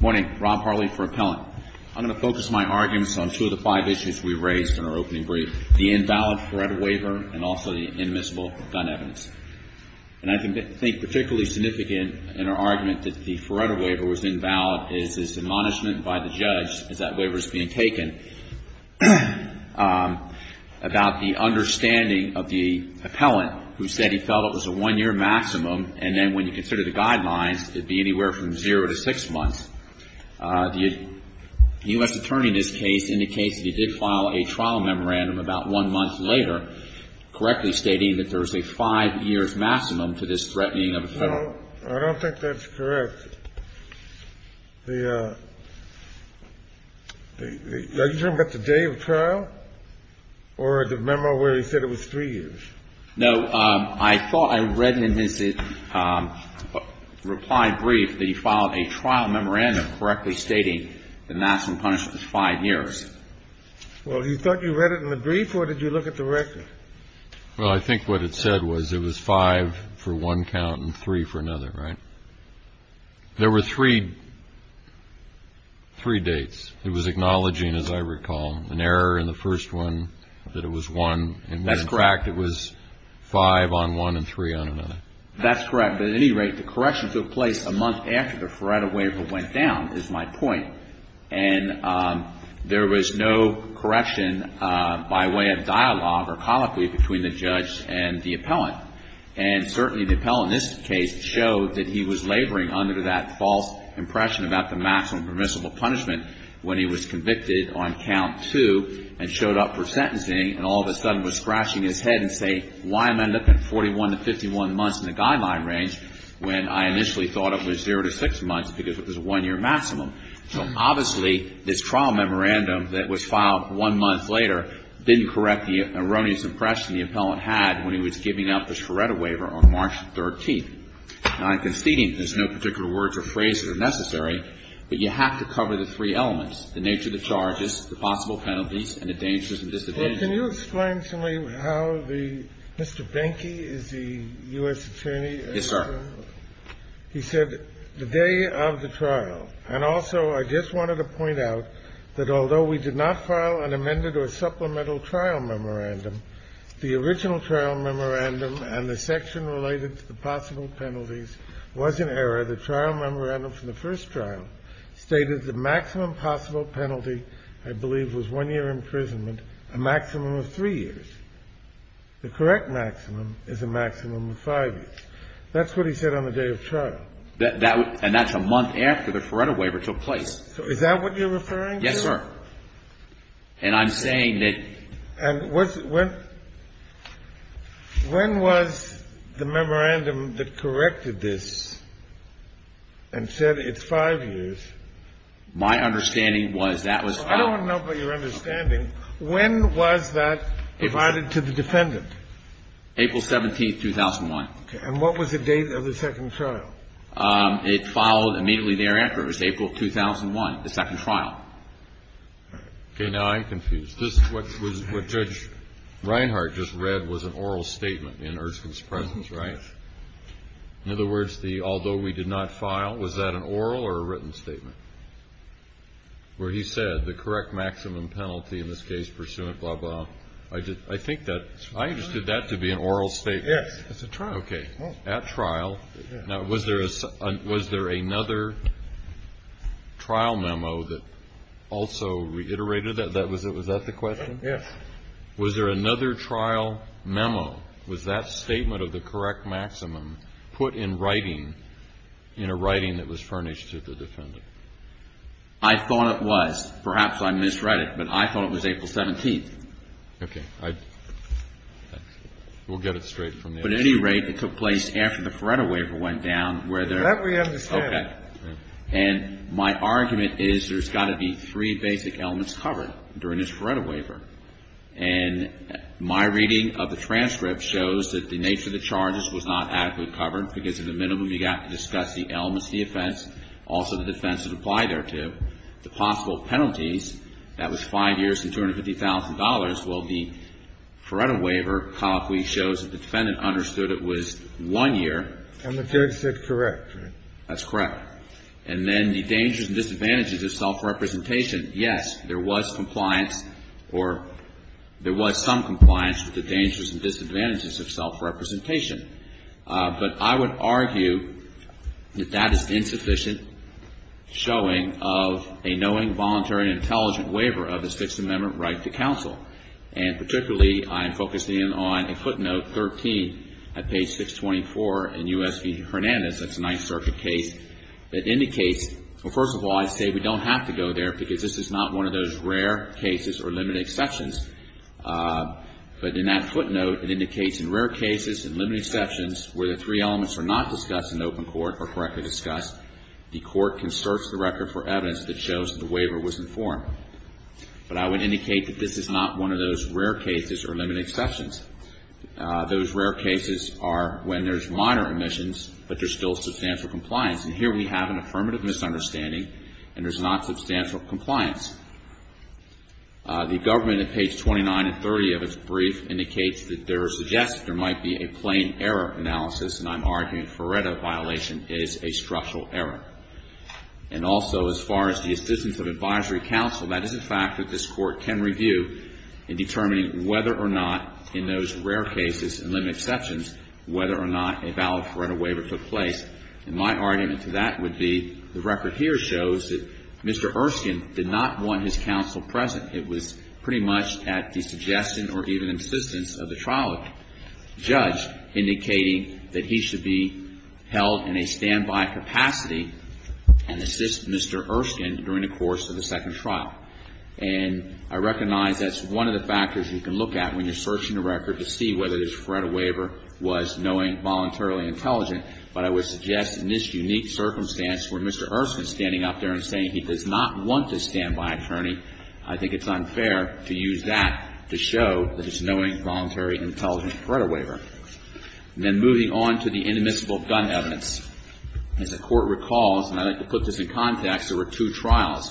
Morning. Rob Harley for Appellant. I'm going to focus my arguments on two of the five issues we raised in our opening brief, the invalid Faretto waiver and also the inadmissible gun evidence. And I think particularly significant in our argument that the Faretto waiver was invalid is this admonishment by the judge as that waiver is being taken about the understanding of the appellant who said he felt it was a one-year maximum, and then when you consider the guidelines, it would be anywhere from zero to six months. The U.S. attorney in this case indicates that he did file a trial memorandum about one month later, correctly stating that there was a five-year maximum to this threatening of a federal... No, I don't think that's correct. Are you talking about the day of the trial or the memo where he said it was three years? No, I thought I read in his reply brief that he filed a trial memorandum correctly stating the maximum punishment was five years. Well, you thought you read it in the brief or did you look at the record? Well, I think what it said was it was five for one count and three for another, right? There were three dates. It was acknowledging, as I recall, an error in the first one that it was one. That's correct. In fact, it was five on one and three on another. That's correct. But at any rate, the correction took place a month after the Faretto waiver went down, is my point. And there was no correction by way of dialogue or colloquy between the judge and the appellant. And certainly the appellant in this case showed that he was laboring under that false impression about the maximum permissible punishment when he was convicted on count two and showed up for sentencing and all of a sudden was scratching his head and saying, why am I looking 41 to 51 months in the guideline range when I initially thought it was zero to six months because it was a one-year maximum? So obviously this trial memorandum that was filed one month later didn't correct the erroneous impression the appellant had when he was convicted. And so the question is, do you have to cover the three elements, the nature of the charges, the possible penalties and the dangers and disadvantages of the trial? Can you explain to me how the Mr. Benke is the U.S. attorney? Yes, sir. He said the day of the trial. And also, I just wanted to point out that although we did not file an amended or supplemental trial memorandum, the original trial memorandum and the section related to the possible penalties was in error. The trial memorandum from the first trial stated the maximum possible penalty, I believe, was one-year imprisonment, a maximum of three years. The correct maximum is a maximum of five years. That's what he said on the day of trial. And that's a month after the Feretta waiver took place. Is that what you're referring to? Yes, sir. And I'm saying that — And when was the memorandum that corrected this and said it's five years? My understanding was that was — I don't want to know about your understanding. When was that provided to the defendant? April 17th, 2001. And what was the date of the second trial? It followed immediately thereafter. It was April 2001, the second trial. Okay. Now I'm confused. This is what Judge Reinhart just read was an oral statement in Erskine's presence, right? Yes. In other words, the although we did not file, was that an oral or a written statement? Where he said the correct maximum penalty in this case pursuant, blah, blah. I think that — I understood that to be an oral statement. Yes. It's a trial. Okay. At trial. Now, was there another trial memo that also reiterated that? Was that the question? Yes. Was there another trial memo? Was that statement of the correct maximum put in writing in a writing that was furnished to the defendant? I thought it was. Perhaps I misread it, but I thought it was April 17th. Okay. I — we'll get it straight from the — So at any rate, it took place after the Feretta Waiver went down, where there — That we understand. Okay. And my argument is there's got to be three basic elements covered during this Feretta Waiver. And my reading of the transcript shows that the nature of the charges was not adequately covered, because at the minimum you got to discuss the elements of the offense, also the defense that applied thereto. The possible penalties, that was five years and $250,000. Well, the Feretta Waiver colloquially shows that the defendant understood it was one year. And the judge said correct, right? That's correct. And then the dangers and disadvantages of self-representation, yes, there was compliance or there was some compliance with the dangers and disadvantages of self-representation. But I would argue that that is insufficient showing of a knowing, voluntary, and intelligent waiver of the Sixth Amendment right to counsel. And particularly, I am focusing on a footnote, 13, at page 624 in U.S. v. Hernandez, that's a Ninth Circuit case, that indicates — well, first of all, I say we don't have to go there because this is not one of those rare cases or limited exceptions. But in that footnote, it indicates in rare cases and limited exceptions, where the three elements are not discussed in open court or correctly discussed, the court can search the record for evidence that shows that the waiver was informed. But I would indicate that this is not one of those rare cases or limited exceptions. Those rare cases are when there's minor omissions, but there's still substantial compliance. And here we have an affirmative misunderstanding, and there's not substantial compliance. The government, at page 29 and 30 of its brief, indicates that there suggests there might be a plain error analysis, and I'm arguing Ferretta violation is a structural error. And also, as far as the assistance of advisory counsel, that is a fact that this Court can review in determining whether or not in those rare cases and limited exceptions, whether or not a valid Ferretta waiver took place. And my argument to that would be the record here shows that Mr. Erskine did not want his counsel present. It was pretty much at the suggestion or even insistence of the trial judge, indicating that he should be held in a standby capacity and assist Mr. Erskine during the course of the second trial. And I recognize that's one of the factors you can look at when you're searching the record to see whether this Ferretta waiver was knowing, voluntarily intelligent. But I would suggest in this unique circumstance where Mr. Erskine is standing up there and saying he does not want to stand by attorney, I think it's unfair to use that to show that it's a knowing, voluntary, intelligent Ferretta waiver. And then moving on to the inadmissible gun evidence. As the Court recalls, and I'd like to put this in context, there were two trials.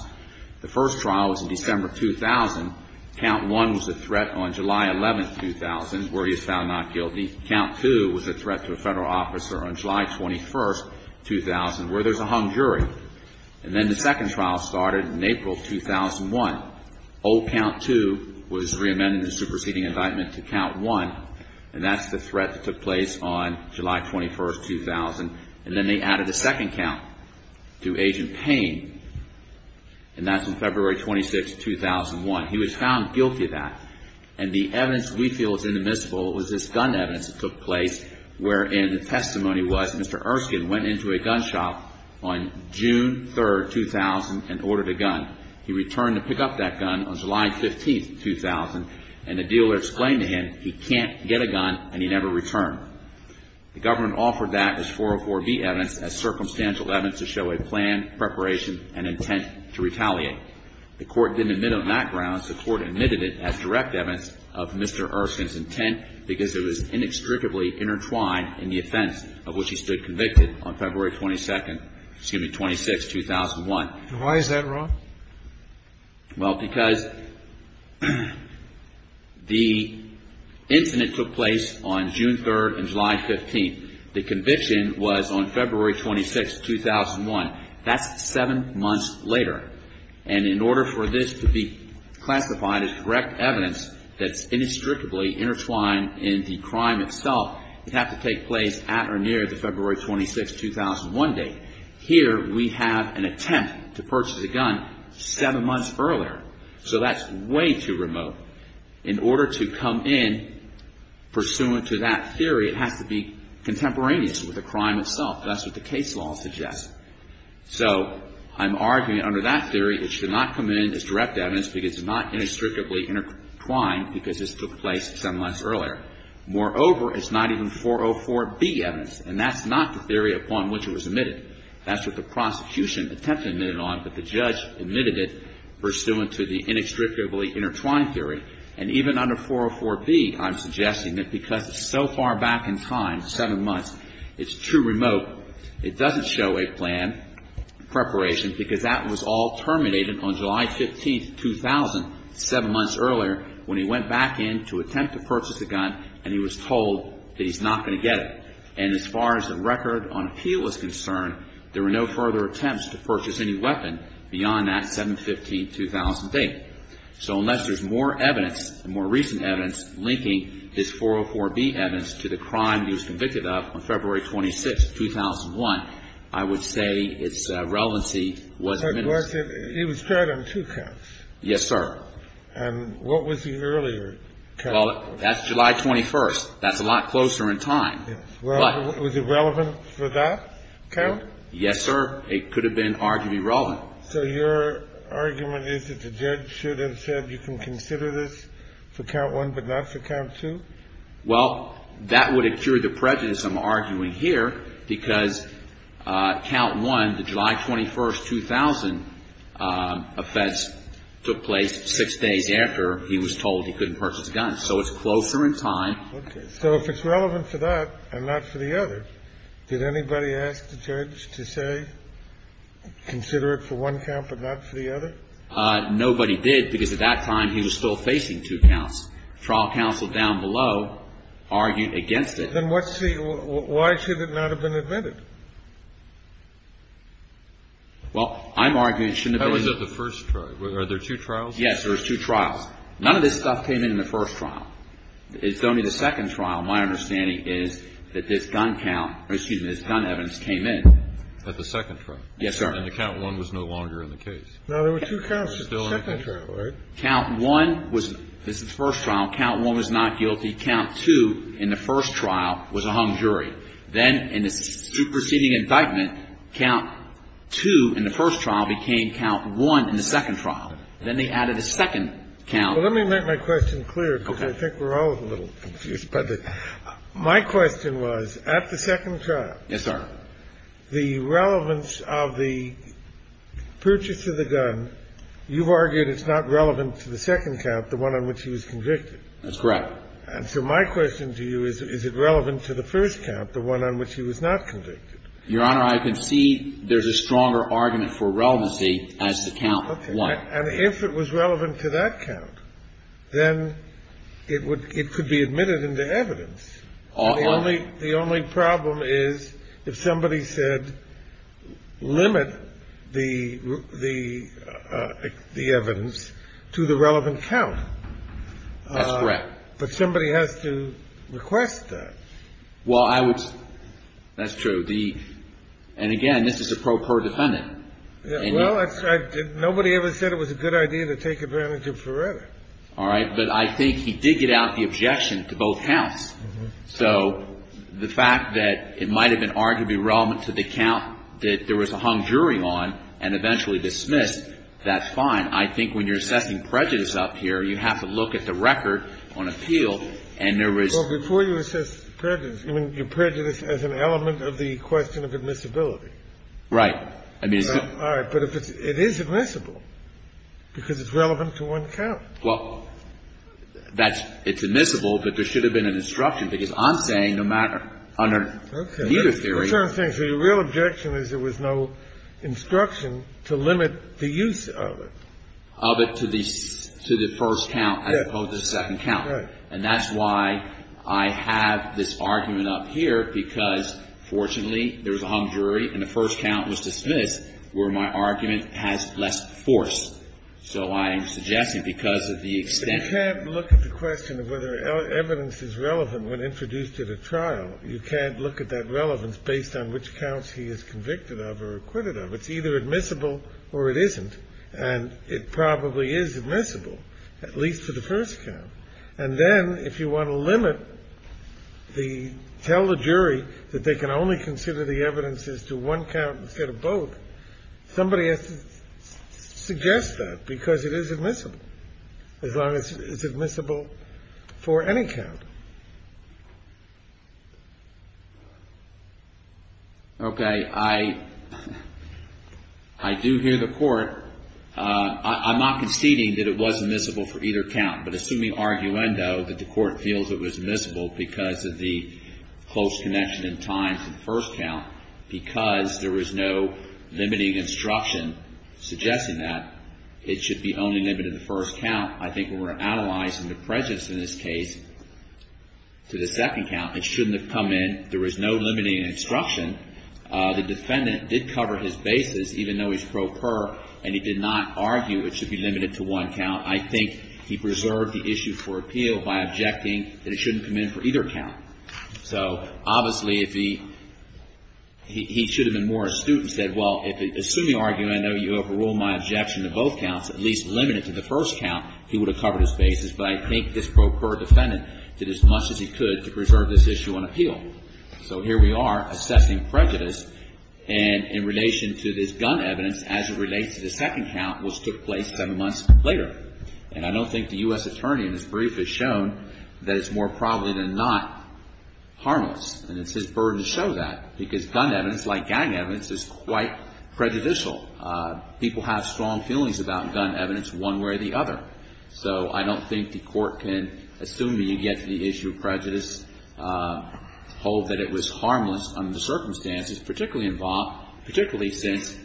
The first trial was in December 2000. Count 1 was a threat on July 11, 2000, where he was found not guilty. Count 2 was a threat to a Federal officer on July 21, 2000, where there's a hung jury. And then the second trial started in April 2001. Old Count 2 was reamended in the superseding indictment to Count 1, and that's the threat that took place on July 21, 2000. And then they added a second count to Agent Payne, and that's on February 26, 2001. He was found guilty of that. And the evidence we feel is inadmissible was this gun evidence that took place, testimony was Mr. Erskine went into a gun shop on June 3, 2000, and ordered a gun. He returned to pick up that gun on July 15, 2000, and the dealer explained to him he can't get a gun, and he never returned. The government offered that as 404B evidence as circumstantial evidence to show a plan, preparation, and intent to retaliate. The Court didn't admit on that grounds. The Court admitted it as direct evidence of Mr. Erskine's intent because it was inextricably intertwined in the offense of which he stood convicted on February 22, excuse me, 26, 2001. And why is that, Ron? Well, because the incident took place on June 3rd and July 15th. The conviction was on February 26, 2001. That's seven months later. And in order for this to be classified as direct evidence that's inextricably intertwined in the crime itself, it has to take place at or near the February 26, 2001 date. Here we have an attempt to purchase a gun seven months earlier. So that's way too remote. In order to come in pursuant to that theory, it has to be contemporaneous with the crime itself. That's what the case law suggests. So I'm arguing under that theory it should not come in as direct evidence because it's not inextricably intertwined because this took place seven months earlier. Moreover, it's not even 404B evidence. And that's not the theory upon which it was admitted. That's what the prosecution attempted to admit it on, but the judge admitted it pursuant to the inextricably intertwined theory. And even under 404B, I'm suggesting that because it's so far back in time, seven months, it's too remote. It doesn't show a plan preparation because that was all terminated on July 15th, 2000, seven months earlier, when he went back in to attempt to purchase a gun and he was told that he's not going to get it. And as far as the record on appeal is concerned, there were no further attempts to purchase any weapon beyond that 7-15-2008. So unless there's more evidence, more recent evidence linking this 404B evidence to the crime he was convicted of on February 26th, 2001, I would say its relevancy was miniscule. It wasn't. It was tried on two counts. Yes, sir. And what was the earlier count? Well, that's July 21st. That's a lot closer in time. Well, was it relevant for that count? Yes, sir. It could have been arguably relevant. So your argument is that the judge should have said you can consider this for count one but not for count two? Well, that would have cured the prejudice I'm arguing here because count one, the offense took place six days after he was told he couldn't purchase a gun. So it's closer in time. Okay. So if it's relevant for that and not for the other, did anybody ask the judge to say consider it for one count but not for the other? Nobody did because at that time he was still facing two counts. Trial counsel down below argued against it. Then what's the – why should it not have been admitted? Well, I'm arguing it shouldn't have been. That was at the first trial. Are there two trials? Yes. There's two trials. None of this stuff came in the first trial. It's only the second trial, my understanding is, that this gun count – excuse me, this gun evidence came in. At the second trial? Yes, sir. And the count one was no longer in the case? No, there were two counts at the second trial, right? Count one was – this is the first trial. Count one was not guilty. Count two in the first trial was a hung jury. Then in the superseding indictment, count two in the first trial became count one in the second trial. Then they added a second count. Well, let me make my question clear because I think we're all a little confused by this. My question was at the second trial. Yes, sir. The relevance of the purchase of the gun, you've argued it's not relevant to the second count, the one on which he was convicted. That's correct. And so my question to you is, is it relevant to the first count, the one on which he was not convicted? Your Honor, I concede there's a stronger argument for relevancy as to count one. Okay. And if it was relevant to that count, then it would – it could be admitted into evidence. The only problem is if somebody said limit the evidence to the relevant count. That's correct. But somebody has to request that. Well, I would – that's true. The – and again, this is a pro-per defendant. Well, that's right. Nobody ever said it was a good idea to take advantage of Ferreira. All right. But I think he did get out the objection to both counts. So the fact that it might have been arguably relevant to the count that there was a hung jury on and eventually dismissed, that's fine. I think when you're assessing prejudice up here, you have to look at the record on appeal and there is – Well, before you assess prejudice, you mean your prejudice as an element of the question of admissibility. Right. I mean, it's – All right. But if it's – it is admissible because it's relevant to one count. Well, that's – it's admissible, but there should have been an instruction, because I'm saying no matter – under Muta theory – That's what I'm saying. So your real objection is there was no instruction to limit the use of it. Of it to the – to the first count as opposed to the second count. Right. And that's why I have this argument up here, because fortunately there was a hung jury and the first count was dismissed, where my argument has less force. So I'm suggesting because of the extent – But you can't look at the question of whether evidence is relevant when introduced at a trial. You can't look at that relevance based on which counts he is convicted of or acquitted of. It's either admissible or it isn't, and it probably is admissible, at least for the first count. And then if you want to limit the – tell the jury that they can only consider the evidence as to one count instead of both, somebody has to suggest that, because it is admissible, as long as it's admissible for any count. Okay. I do hear the court. I'm not conceding that it was admissible for either count, but assuming arguendo, that the court feels it was admissible because of the close connection in time to the first count, because there was no limiting instruction suggesting that, it should be only limited to the first count. I think when we're analyzing the prejudice in this case to the second count, it shouldn't have come in. There was no limiting instruction. The defendant did cover his basis, even though he's pro per, and he did not argue it should be limited to one count. I think he preserved the issue for appeal by objecting that it shouldn't come in for either count. So obviously, if he – he should have been more astute and said, well, assuming arguendo, you overrule my objection to both counts, at least limit it to the first count, he would have covered his basis. But I think this pro per defendant did as much as he could to preserve this issue on appeal. So here we are assessing prejudice, and in relation to this gun evidence, as it relates to the second count, which took place seven months later. And I don't think the U.S. attorney in his brief has shown that it's more probable than not harmless, and it's his burden to show that, because gun evidence, like gang evidence, is quite prejudicial. People have strong feelings about gun evidence one way or the other. So I don't think the Court can assume that you get to the issue of prejudice, hold that it was harmless under the circumstances, particularly in Vaughn, particularly since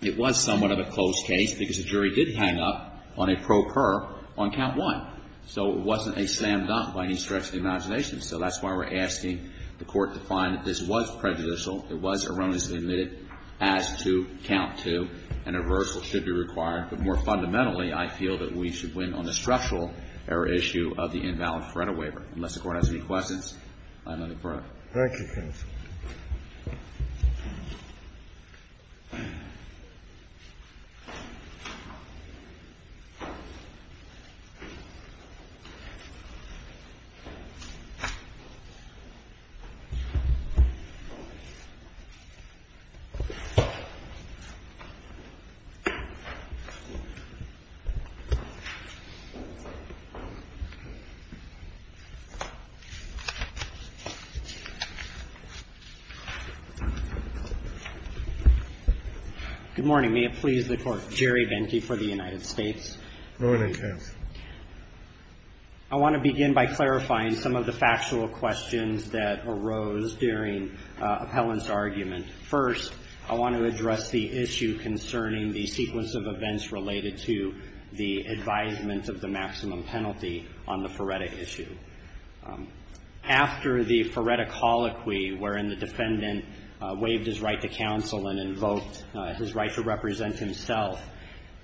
it was somewhat of a closed case, because the jury did hang up on a pro per on count one. So it wasn't a slam dunk by any stretch of the imagination. So that's why we're asking the Court to find that this was prejudicial, it was erroneously omitted as to count two, and a reversal should be required. But more fundamentally, I feel that we should win on the structural error issue of the invalid Feretta waiver. Unless the Court has any questions, I'm going to close. Thank you. Good morning. May it please the Court. Jerry Bente for the United States. Good morning, counsel. I want to begin by clarifying some of the factual questions that arose during Appellant's argument. First, I want to address the issue concerning the sequence of events related to the advisement of the maximum penalty on the Feretta issue. After the Feretta colloquy wherein the defendant waived his right to counsel and invoked his right to represent himself,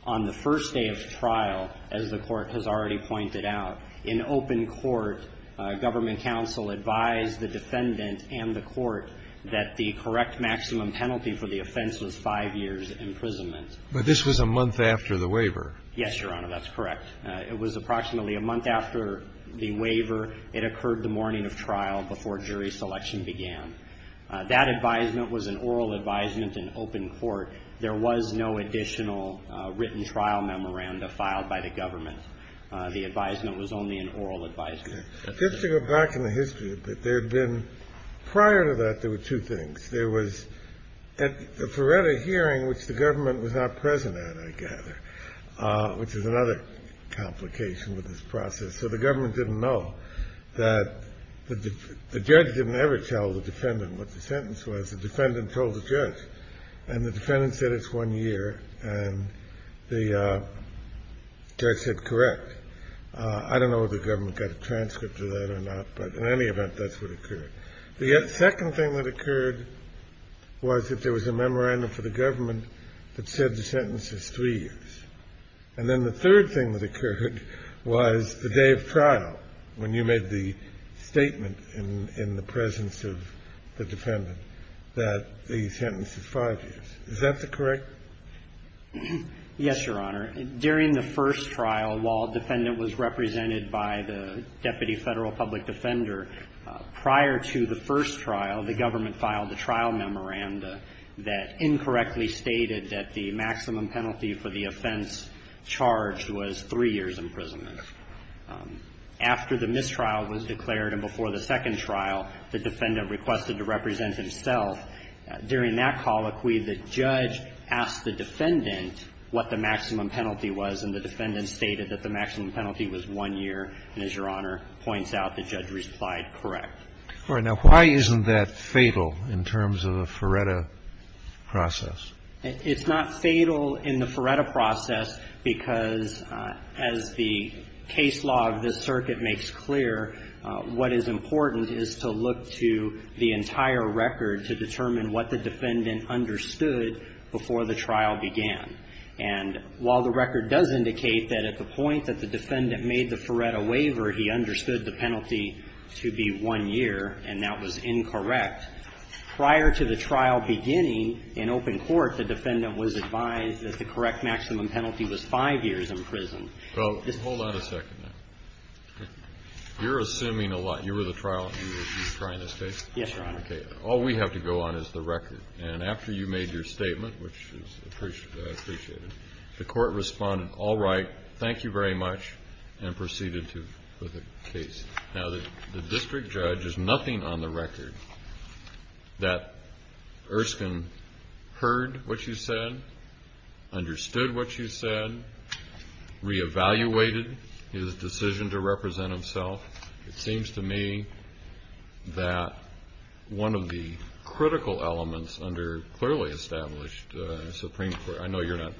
on the first day of trial, as the Court has already pointed out, in open court, government counsel advised the defendant and the Court that the correct maximum penalty for the offense was five years' imprisonment. But this was a month after the waiver. Yes, Your Honor, that's correct. It was approximately a month after the waiver. It occurred the morning of trial before jury selection began. That advisement was an oral advisement in open court. There was no additional written trial memoranda filed by the government. The advisement was only an oral advisement. Just to go back in the history a bit, there had been – prior to that, there were two things. There was at the Feretta hearing, which the government was not present at, I gather, which is another complication with this process. So the government didn't know that – the judge didn't ever tell the defendant what the sentence was. The defendant told the judge. And the defendant said it's one year, and the judge said correct. I don't know if the government got a transcript of that or not, but in any event, that's what occurred. The second thing that occurred was that there was a memorandum for the government that said the sentence is three years. And then the third thing that occurred was the day of trial, when you made the statement in the presence of the defendant that the sentence is five years. Is that correct? Yes, Your Honor. During the first trial, while a defendant was represented by the deputy Federal Public Defender, prior to the first trial, the government filed a trial memoranda that incorrectly stated that the maximum penalty for the offense charged was three years' imprisonment. After the mistrial was declared and before the second trial, the defendant requested to represent himself. During that colloquy, the judge asked the defendant what the maximum penalty was, and the defendant stated that the maximum penalty was one year. And as Your Honor points out, the judge replied correct. All right. Now, why isn't that fatal in terms of the Feretta process? It's not fatal in the Feretta process because, as the case law of this circuit makes clear, what is important is to look to the entire record to determine what the defendant understood before the trial began. And while the record does indicate that at the point that the defendant made the Feretta waiver, he understood the penalty to be one year, and that was incorrect, prior to the trial beginning in open court, the defendant was advised that the correct maximum penalty was five years' imprisonment. Well, hold on a second. You're assuming a lot. You were at the trial and you were trying to state? Yes, Your Honor. Okay. All we have to go on is the record. And after you made your statement, which is appreciated, the court responded, all right, thank you very much, and proceeded with the case. Now, the district judge is nothing on the record that Erskine heard what you said, understood what you said, re-evaluated his decision to represent himself. It seems to me that one of the critical elements under clearly established Supreme Court, I know you're not,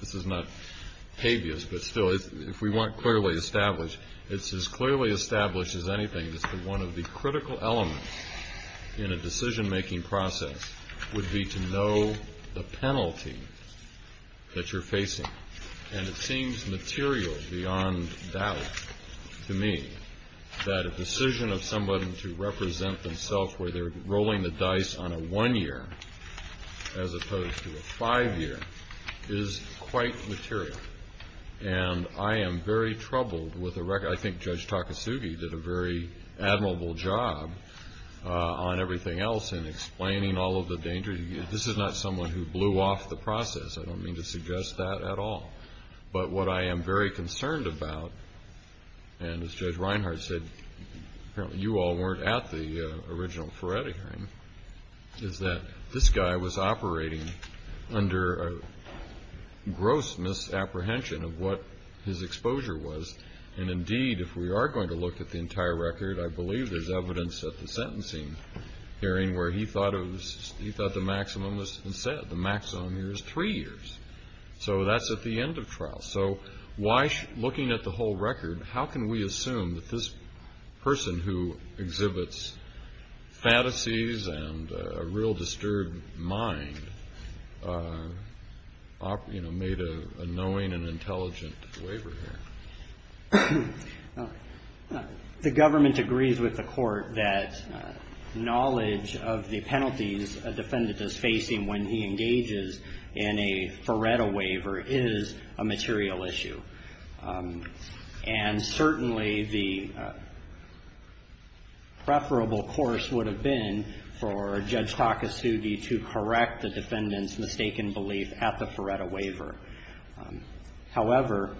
this is not habeas, but still, if we want clearly established, it's as clearly established as anything just that one of the critical elements in a decision-making process would be to know the penalty that you're facing. And it seems material beyond doubt to me that a decision of someone to represent themselves where they're rolling the dice on a one-year as opposed to a five-year is quite material. And I am very troubled with the record. I think Judge Takasugi did a very admirable job on everything else in explaining all of the dangers. This is not someone who blew off the process. I don't mean to suggest that at all. But what I am very concerned about, and as Judge Reinhart said, apparently you all weren't at the original Ferretti hearing, is that this guy was operating under a gross misapprehension of what his exposure was. And, indeed, if we are going to look at the entire record, I believe there's evidence at the sentencing hearing where he thought the maximum was set. The maximum here is three years. So that's at the end of trial. So looking at the whole record, how can we assume that this person who exhibits fantasies and a real disturbed mind made a knowing and intelligent waiver here? The government agrees with the court that knowledge of the penalties a defendant is facing when he engages in a Ferretti waiver is a material issue. And certainly the preferable course would have been for Judge Takasugi to correct the defendant's mistaken belief at the Ferretti waiver. However,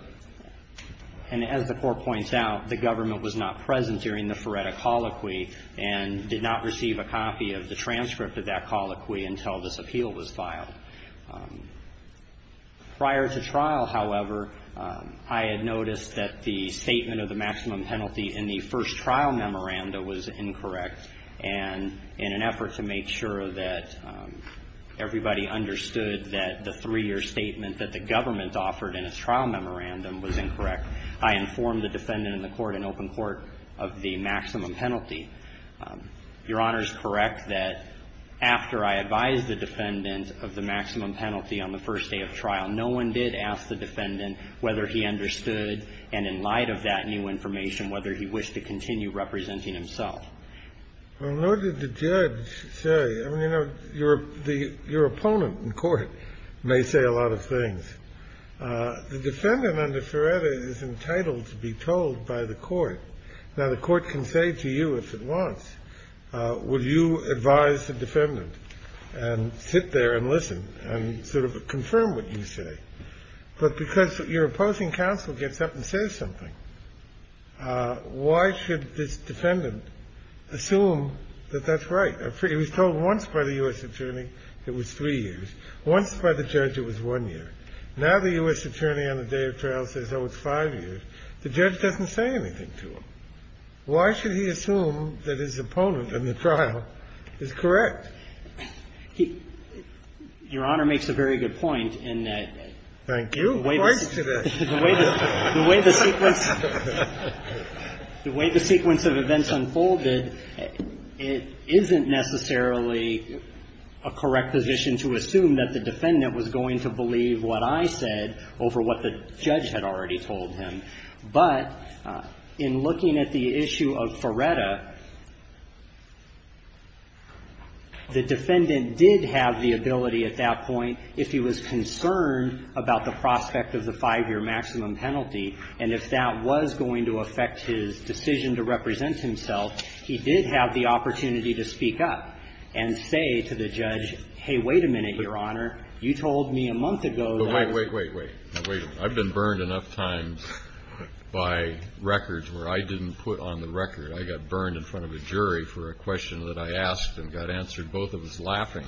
and as the court points out, the government was not present during the Ferretti colloquy and did not receive a copy of the transcript of that colloquy until this appeal was filed. Prior to trial, however, I had noticed that the statement of the maximum penalty in the first trial memoranda was incorrect. And in an effort to make sure that everybody understood that the three-year statement that the government offered in its trial memorandum was incorrect, I informed the defendant in the court in open court of the maximum penalty. Your Honor is correct that after I advised the defendant of the maximum penalty on the first day of trial, no one did ask the defendant whether he understood and in light of that new information whether he wished to continue representing himself. Well, nor did the judge say. I mean, you know, your opponent in court may say a lot of things. The defendant under Ferretti is entitled to be told by the court. Now, the court can say to you if it wants, will you advise the defendant and sit there and listen and sort of confirm what you say? But because your opposing counsel gets up and says something, why should this defendant assume that that's right? It was told once by the U.S. attorney it was three years, once by the judge it was one year. Now the U.S. attorney on the day of trial says it was five years. The judge doesn't say anything to him. Why should he assume that his opponent in the trial is correct? Your Honor makes a very good point in that the way the sequence of events unfolded, it isn't necessarily a correct position to assume that the defendant was going to believe what I said over what the judge had already told him. But in looking at the issue of Ferretti, the defendant did have the ability at that point, if he was concerned about the prospect of the five-year maximum penalty, and if that was going to affect his decision to represent himself, he did have the opportunity to speak up and say to the judge, hey, wait a minute, Your Honor. You told me a month ago that ---- Wait, wait, wait, wait. I've been burned enough times by records where I didn't put on the record. I got burned in front of a jury for a question that I asked and got answered. Both of us laughing.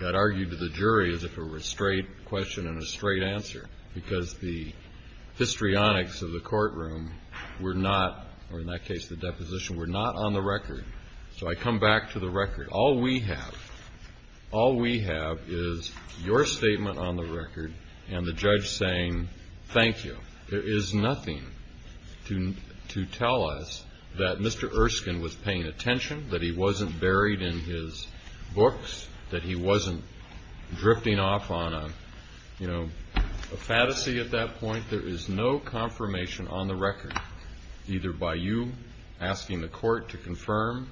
Got argued to the jury as if it were a straight question and a straight answer, because the histrionics of the courtroom were not, or in that case the deposition, were not on the record. So I come back to the record. All we have is your statement on the record and the judge saying thank you. There is nothing to tell us that Mr. Erskine was paying attention, that he wasn't buried in his books, that he wasn't drifting off on a fantasy at that point. There is no confirmation on the record, either by you asking the court to confirm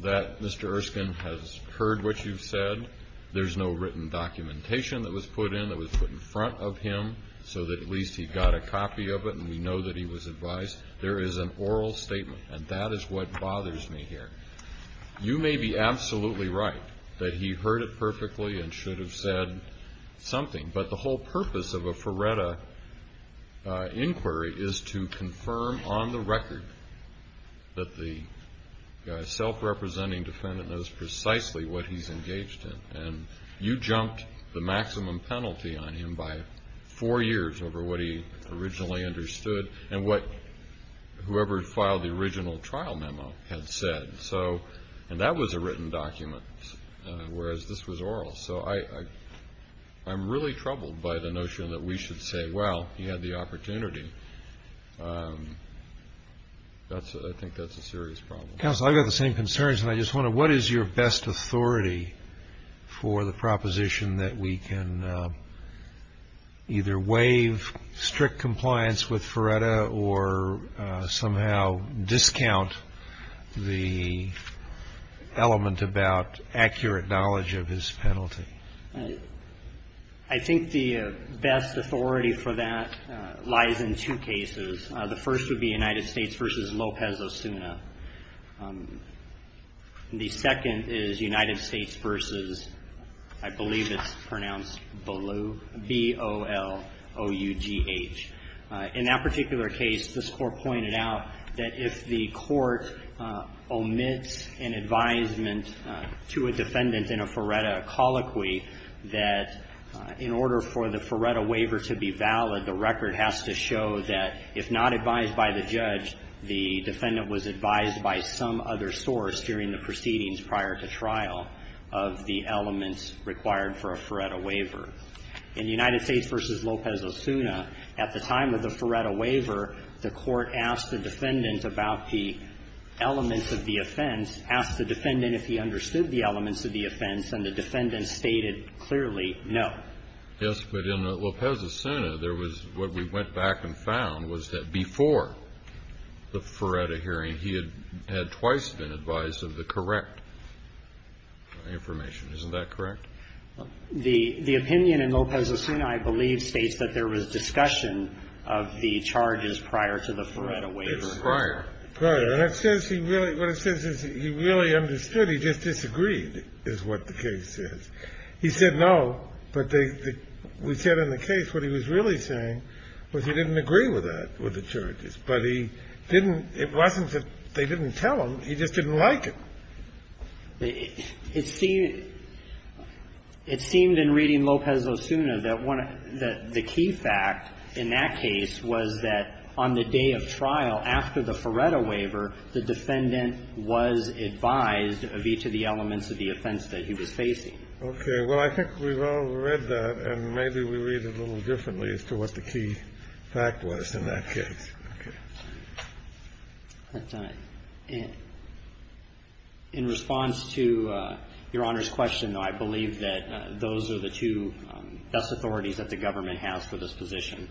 that Mr. Erskine has heard what you've said. There's no written documentation that was put in that was put in front of him so that at least he got a copy of it and we know that he was advised. There is an oral statement, and that is what bothers me here. You may be absolutely right that he heard it perfectly and should have said something, but the whole purpose of a Ferretta inquiry is to confirm on the record that the self-representing defendant knows precisely what he's engaged in, and you jumped the maximum penalty on him by four years over what he originally understood and what whoever filed the original trial memo had said. And that was a written document, whereas this was oral. So I'm really troubled by the notion that we should say, well, he had the opportunity. I think that's a serious problem. Counsel, I've got the same concerns, and I just wonder, what is your best authority for the proposition that we can either waive strict compliance with Ferretta or somehow discount the element about accurate knowledge of his penalty? I think the best authority for that lies in two cases. The first would be United States v. Lopez-Osuna. The second is United States v. I believe it's pronounced B-O-L-O-U-G-H. In that particular case, this Court pointed out that if the court omits an advisement to a defendant in a Ferretta colloquy, that in order for the Ferretta waiver to be valid, the record has to show that if not advised by the judge, the defendant was advised by some other source during the proceedings prior to trial of the elements required for a Ferretta waiver. In United States v. Lopez-Osuna, at the time of the Ferretta waiver, the Court asked the defendant about the elements of the offense, asked the defendant if he understood the elements of the offense, and the defendant stated clearly no. Yes, but in Lopez-Osuna, there was what we went back and found was that before the Ferretta hearing, he had twice been advised of the correct information. Isn't that correct? The opinion in Lopez-Osuna, I believe, states that there was discussion of the charges prior to the Ferretta waiver. It's prior. Prior. And it says he really – what it says is he really understood. He just disagreed, is what the case says. He said no, but they – we said in the case what he was really saying was he didn't agree with that, with the charges. But he didn't – it wasn't that they didn't tell him. He just didn't like it. It seemed in reading Lopez-Osuna that the key fact in that case was that on the day of trial, after the Ferretta waiver, the defendant was advised of each of the elements of the offense that he was facing. Okay. Well, I think we've all read that, and maybe we read it a little differently as to what the key fact was in that case. Okay. In response to Your Honor's question, though, I believe that those are the two best authorities that the government has for this position.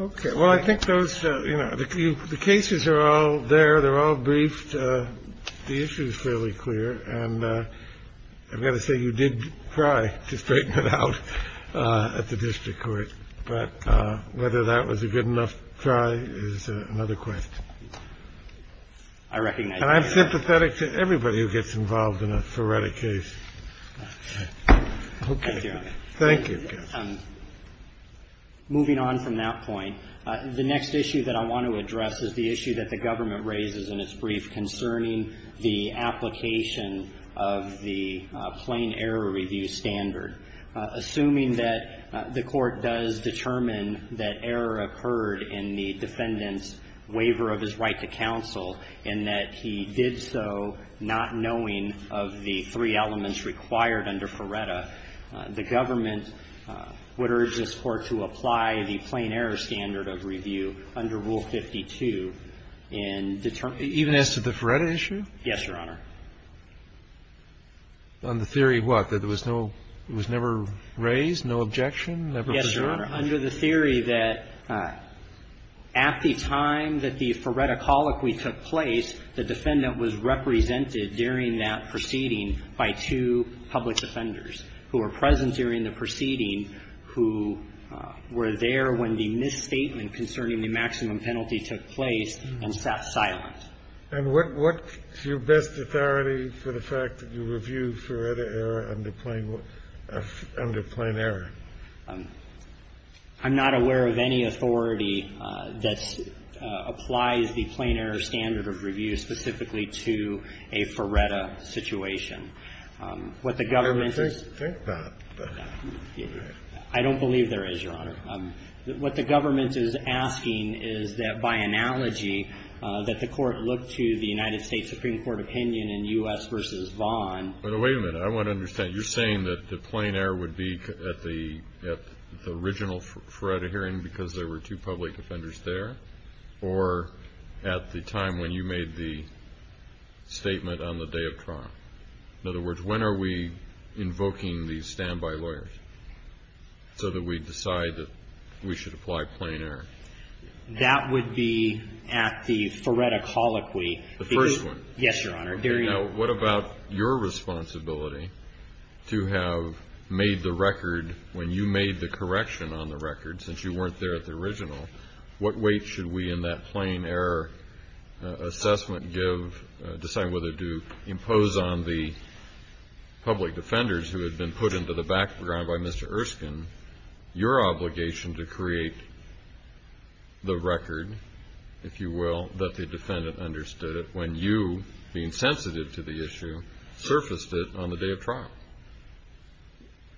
Okay. Well, I think those – you know, the cases are all there. They're all briefed. The issue is fairly clear. And I've got to say, you did try to straighten it out at the district court. But whether that was a good enough try is another question. I recognize that. And I'm sympathetic to everybody who gets involved in a Ferretta case. Okay. Thank you, Your Honor. Thank you. Moving on from that point, the next issue that I want to address is the issue that the government raises in its brief concerning the application of the plain error review standard. Assuming that the Court does determine that error occurred in the defendant's waiver of his right to counsel and that he did so not knowing of the three elements required under Ferretta, the government would urge this Court to apply the plain error standard of review under Rule 52 and determine the – Even as to the Ferretta issue? Yes, Your Honor. On the theory of what? That there was no – it was never raised? No objection? Never presented? Yes, Your Honor. Under the theory that at the time that the Ferretta colloquy took place, the defendant was represented during that proceeding by two public defenders who were present during the proceeding who were there when the misstatement concerning the maximum penalty took place and sat silent. And what's your best authority for the fact that you review Ferretta error under plain – under plain error? I'm not aware of any authority that applies the plain error standard of review specifically to a Ferretta situation. What the government is – I don't think that. I don't believe there is, Your Honor. What the government is asking is that by analogy that the Court look to the United States Supreme Court opinion in U.S. v. Vaughn. Wait a minute. I want to understand. You're saying that the plain error would be at the original Ferretta hearing because there were two public defenders there or at the time when you made the statement on the day of trial? In other words, when are we invoking these standby lawyers so that we decide that we should apply plain error? That would be at the Ferretta colloquy. The first one? Yes, Your Honor. Now, what about your responsibility to have made the record when you made the correction on the record since you weren't there at the original, what weight should we in that on the public defenders who had been put into the background by Mr. Erskine, your obligation to create the record, if you will, that the defendant understood it when you, being sensitive to the issue, surfaced it on the day of trial?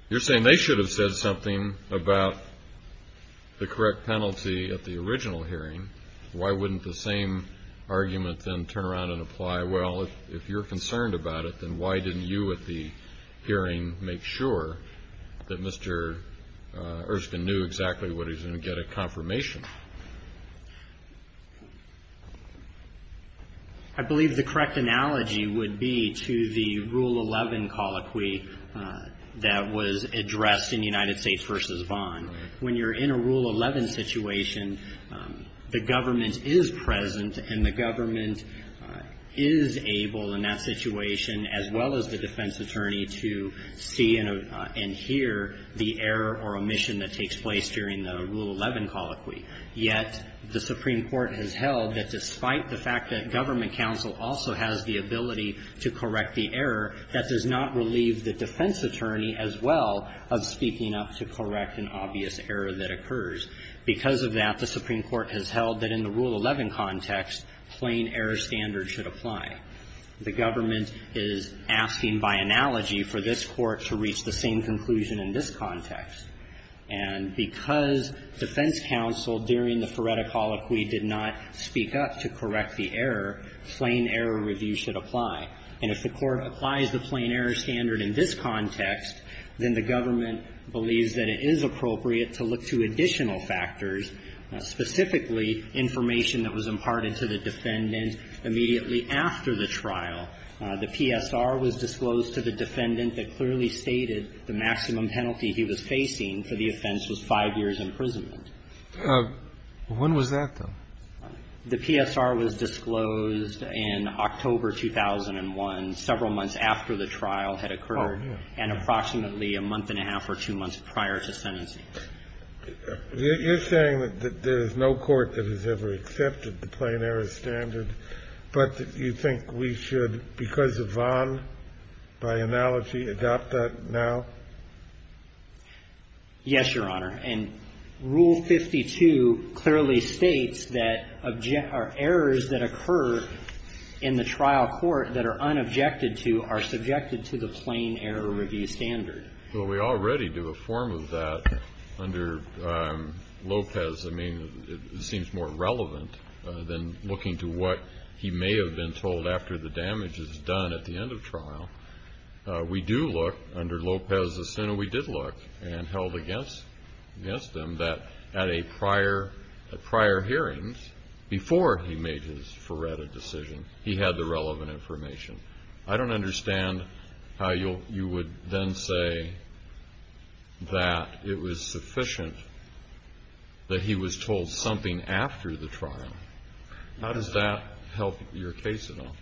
You're saying they should have said something about the correct penalty at the original hearing. Why wouldn't the same argument then turn around and apply, well, if you're concerned about it, then why didn't you at the hearing make sure that Mr. Erskine knew exactly what he was going to get at confirmation? I believe the correct analogy would be to the Rule 11 colloquy that was addressed in United States v. Vaughn. When you're in a Rule 11 situation, the government is present and the government is able in that situation, as well as the defense attorney, to see and hear the error or omission that takes place during the Rule 11 colloquy. Yet the Supreme Court has held that despite the fact that government counsel also has the ability to correct the error, that does not relieve the defense attorney as well of speaking up to correct an obvious error that occurs. Because of that, the Supreme Court has held that in the Rule 11 context, plain error standard should apply. The government is asking by analogy for this Court to reach the same conclusion in this context. And because defense counsel during the Feretta colloquy did not speak up to correct the error, plain error review should apply. And if the Court applies the plain error standard in this context, then the government believes that it is appropriate to look to additional factors, specifically information that was imparted to the defendant immediately after the trial. The PSR was disclosed to the defendant that clearly stated the maximum penalty he was facing for the offense was five years' imprisonment. When was that, though? The PSR was disclosed in October 2001, several months after the trial had occurred and approximately a month and a half or two months prior to sentencing. You're saying that there is no court that has ever accepted the plain error standard, but you think we should, because of Vaughan, by analogy, adopt that now? Yes, Your Honor. And Rule 52 clearly states that errors that occur in the trial court that are unobjected to are subjected to the plain error review standard. Well, we already do a form of that under Lopez. I mean, it seems more relevant than looking to what he may have been told after the damage is done at the end of trial. We do look, under Lopez's sentence, we did look and held against him that at a prior hearing, before he made his forerunner decision, he had the relevant information. I don't understand how you would then say that it was sufficient that he was told something after the trial. How does that help your case at all?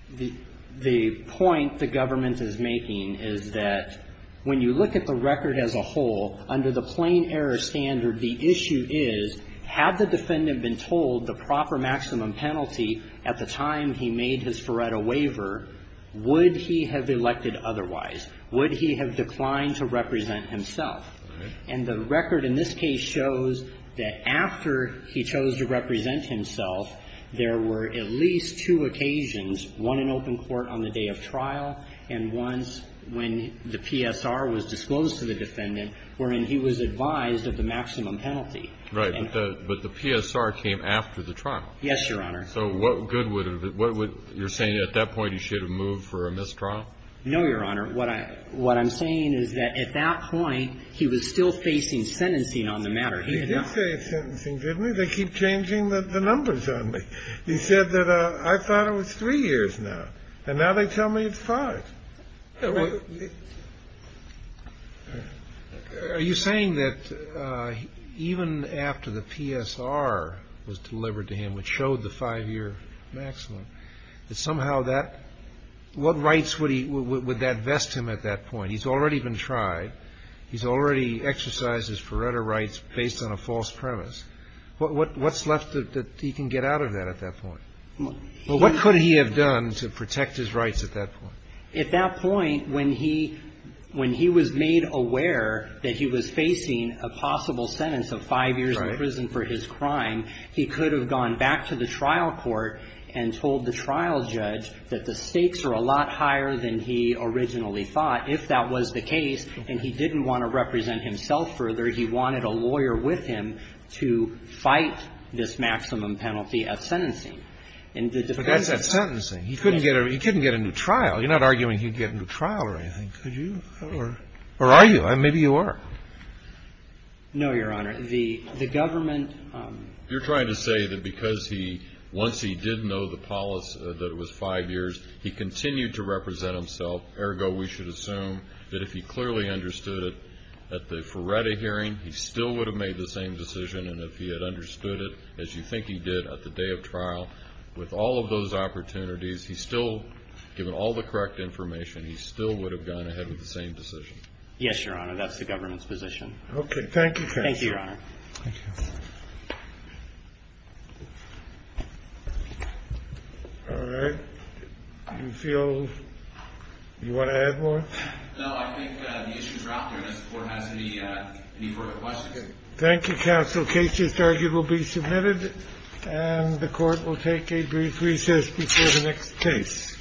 The point the government is making is that when you look at the record as a whole, under the plain error standard, the issue is, had the defendant been told the proper maximum penalty at the time he made his forerunner waiver, would he have elected otherwise? Would he have declined to represent himself? And the record in this case shows that after he chose to represent himself, there were at least two occasions, one in open court on the day of trial and once when the PSR was disclosed to the defendant wherein he was advised of the maximum penalty. Right. But the PSR came after the trial. Yes, Your Honor. So what good would it have been? You're saying at that point he should have moved for a mistrial? No, Your Honor. What I'm saying is that at that point, he was still facing sentencing on the matter. He had not. He did say sentencing, didn't he? They keep changing the numbers on me. He said that I thought it was three years now, and now they tell me it's five. Are you saying that even after the PSR was delivered to him, which showed the five-year maximum, that somehow that – what rights would that vest him at that point? He's already been tried. He's already exercised his Faretta rights based on a false premise. What's left that he can get out of that at that point? Well, what could he have done to protect his rights at that point? At that point, when he was made aware that he was facing a possible sentence of five years in prison for his crime, he could have gone back to the trial court and told the trial judge that the stakes are a lot higher than he originally thought. If that was the case and he didn't want to represent himself further, he wanted a lawyer with him to fight this maximum penalty at sentencing. But that's at sentencing. He couldn't get a new trial. You're not arguing he'd get a new trial or anything, could you? Or are you? Maybe you are. No, Your Honor. The government – You're trying to say that because he – once he did know the policy, that it was five years, he continued to represent himself. Ergo, we should assume that if he clearly understood it at the Faretta hearing, he still would have made the same decision. And if he had understood it, as you think he did at the day of trial, with all of those opportunities, he still – given all the correct information, he still would have gone ahead with the same decision. Yes, Your Honor. That's the government's position. Okay. Thank you, Counsel. Thank you, Your Honor. All right. Do you feel – do you want to add more? No, I think the issue is dropped there unless the Court has any further questions. Thank you, Counsel. The case is – the argument will be submitted and the Court will take a brief recess before the next case.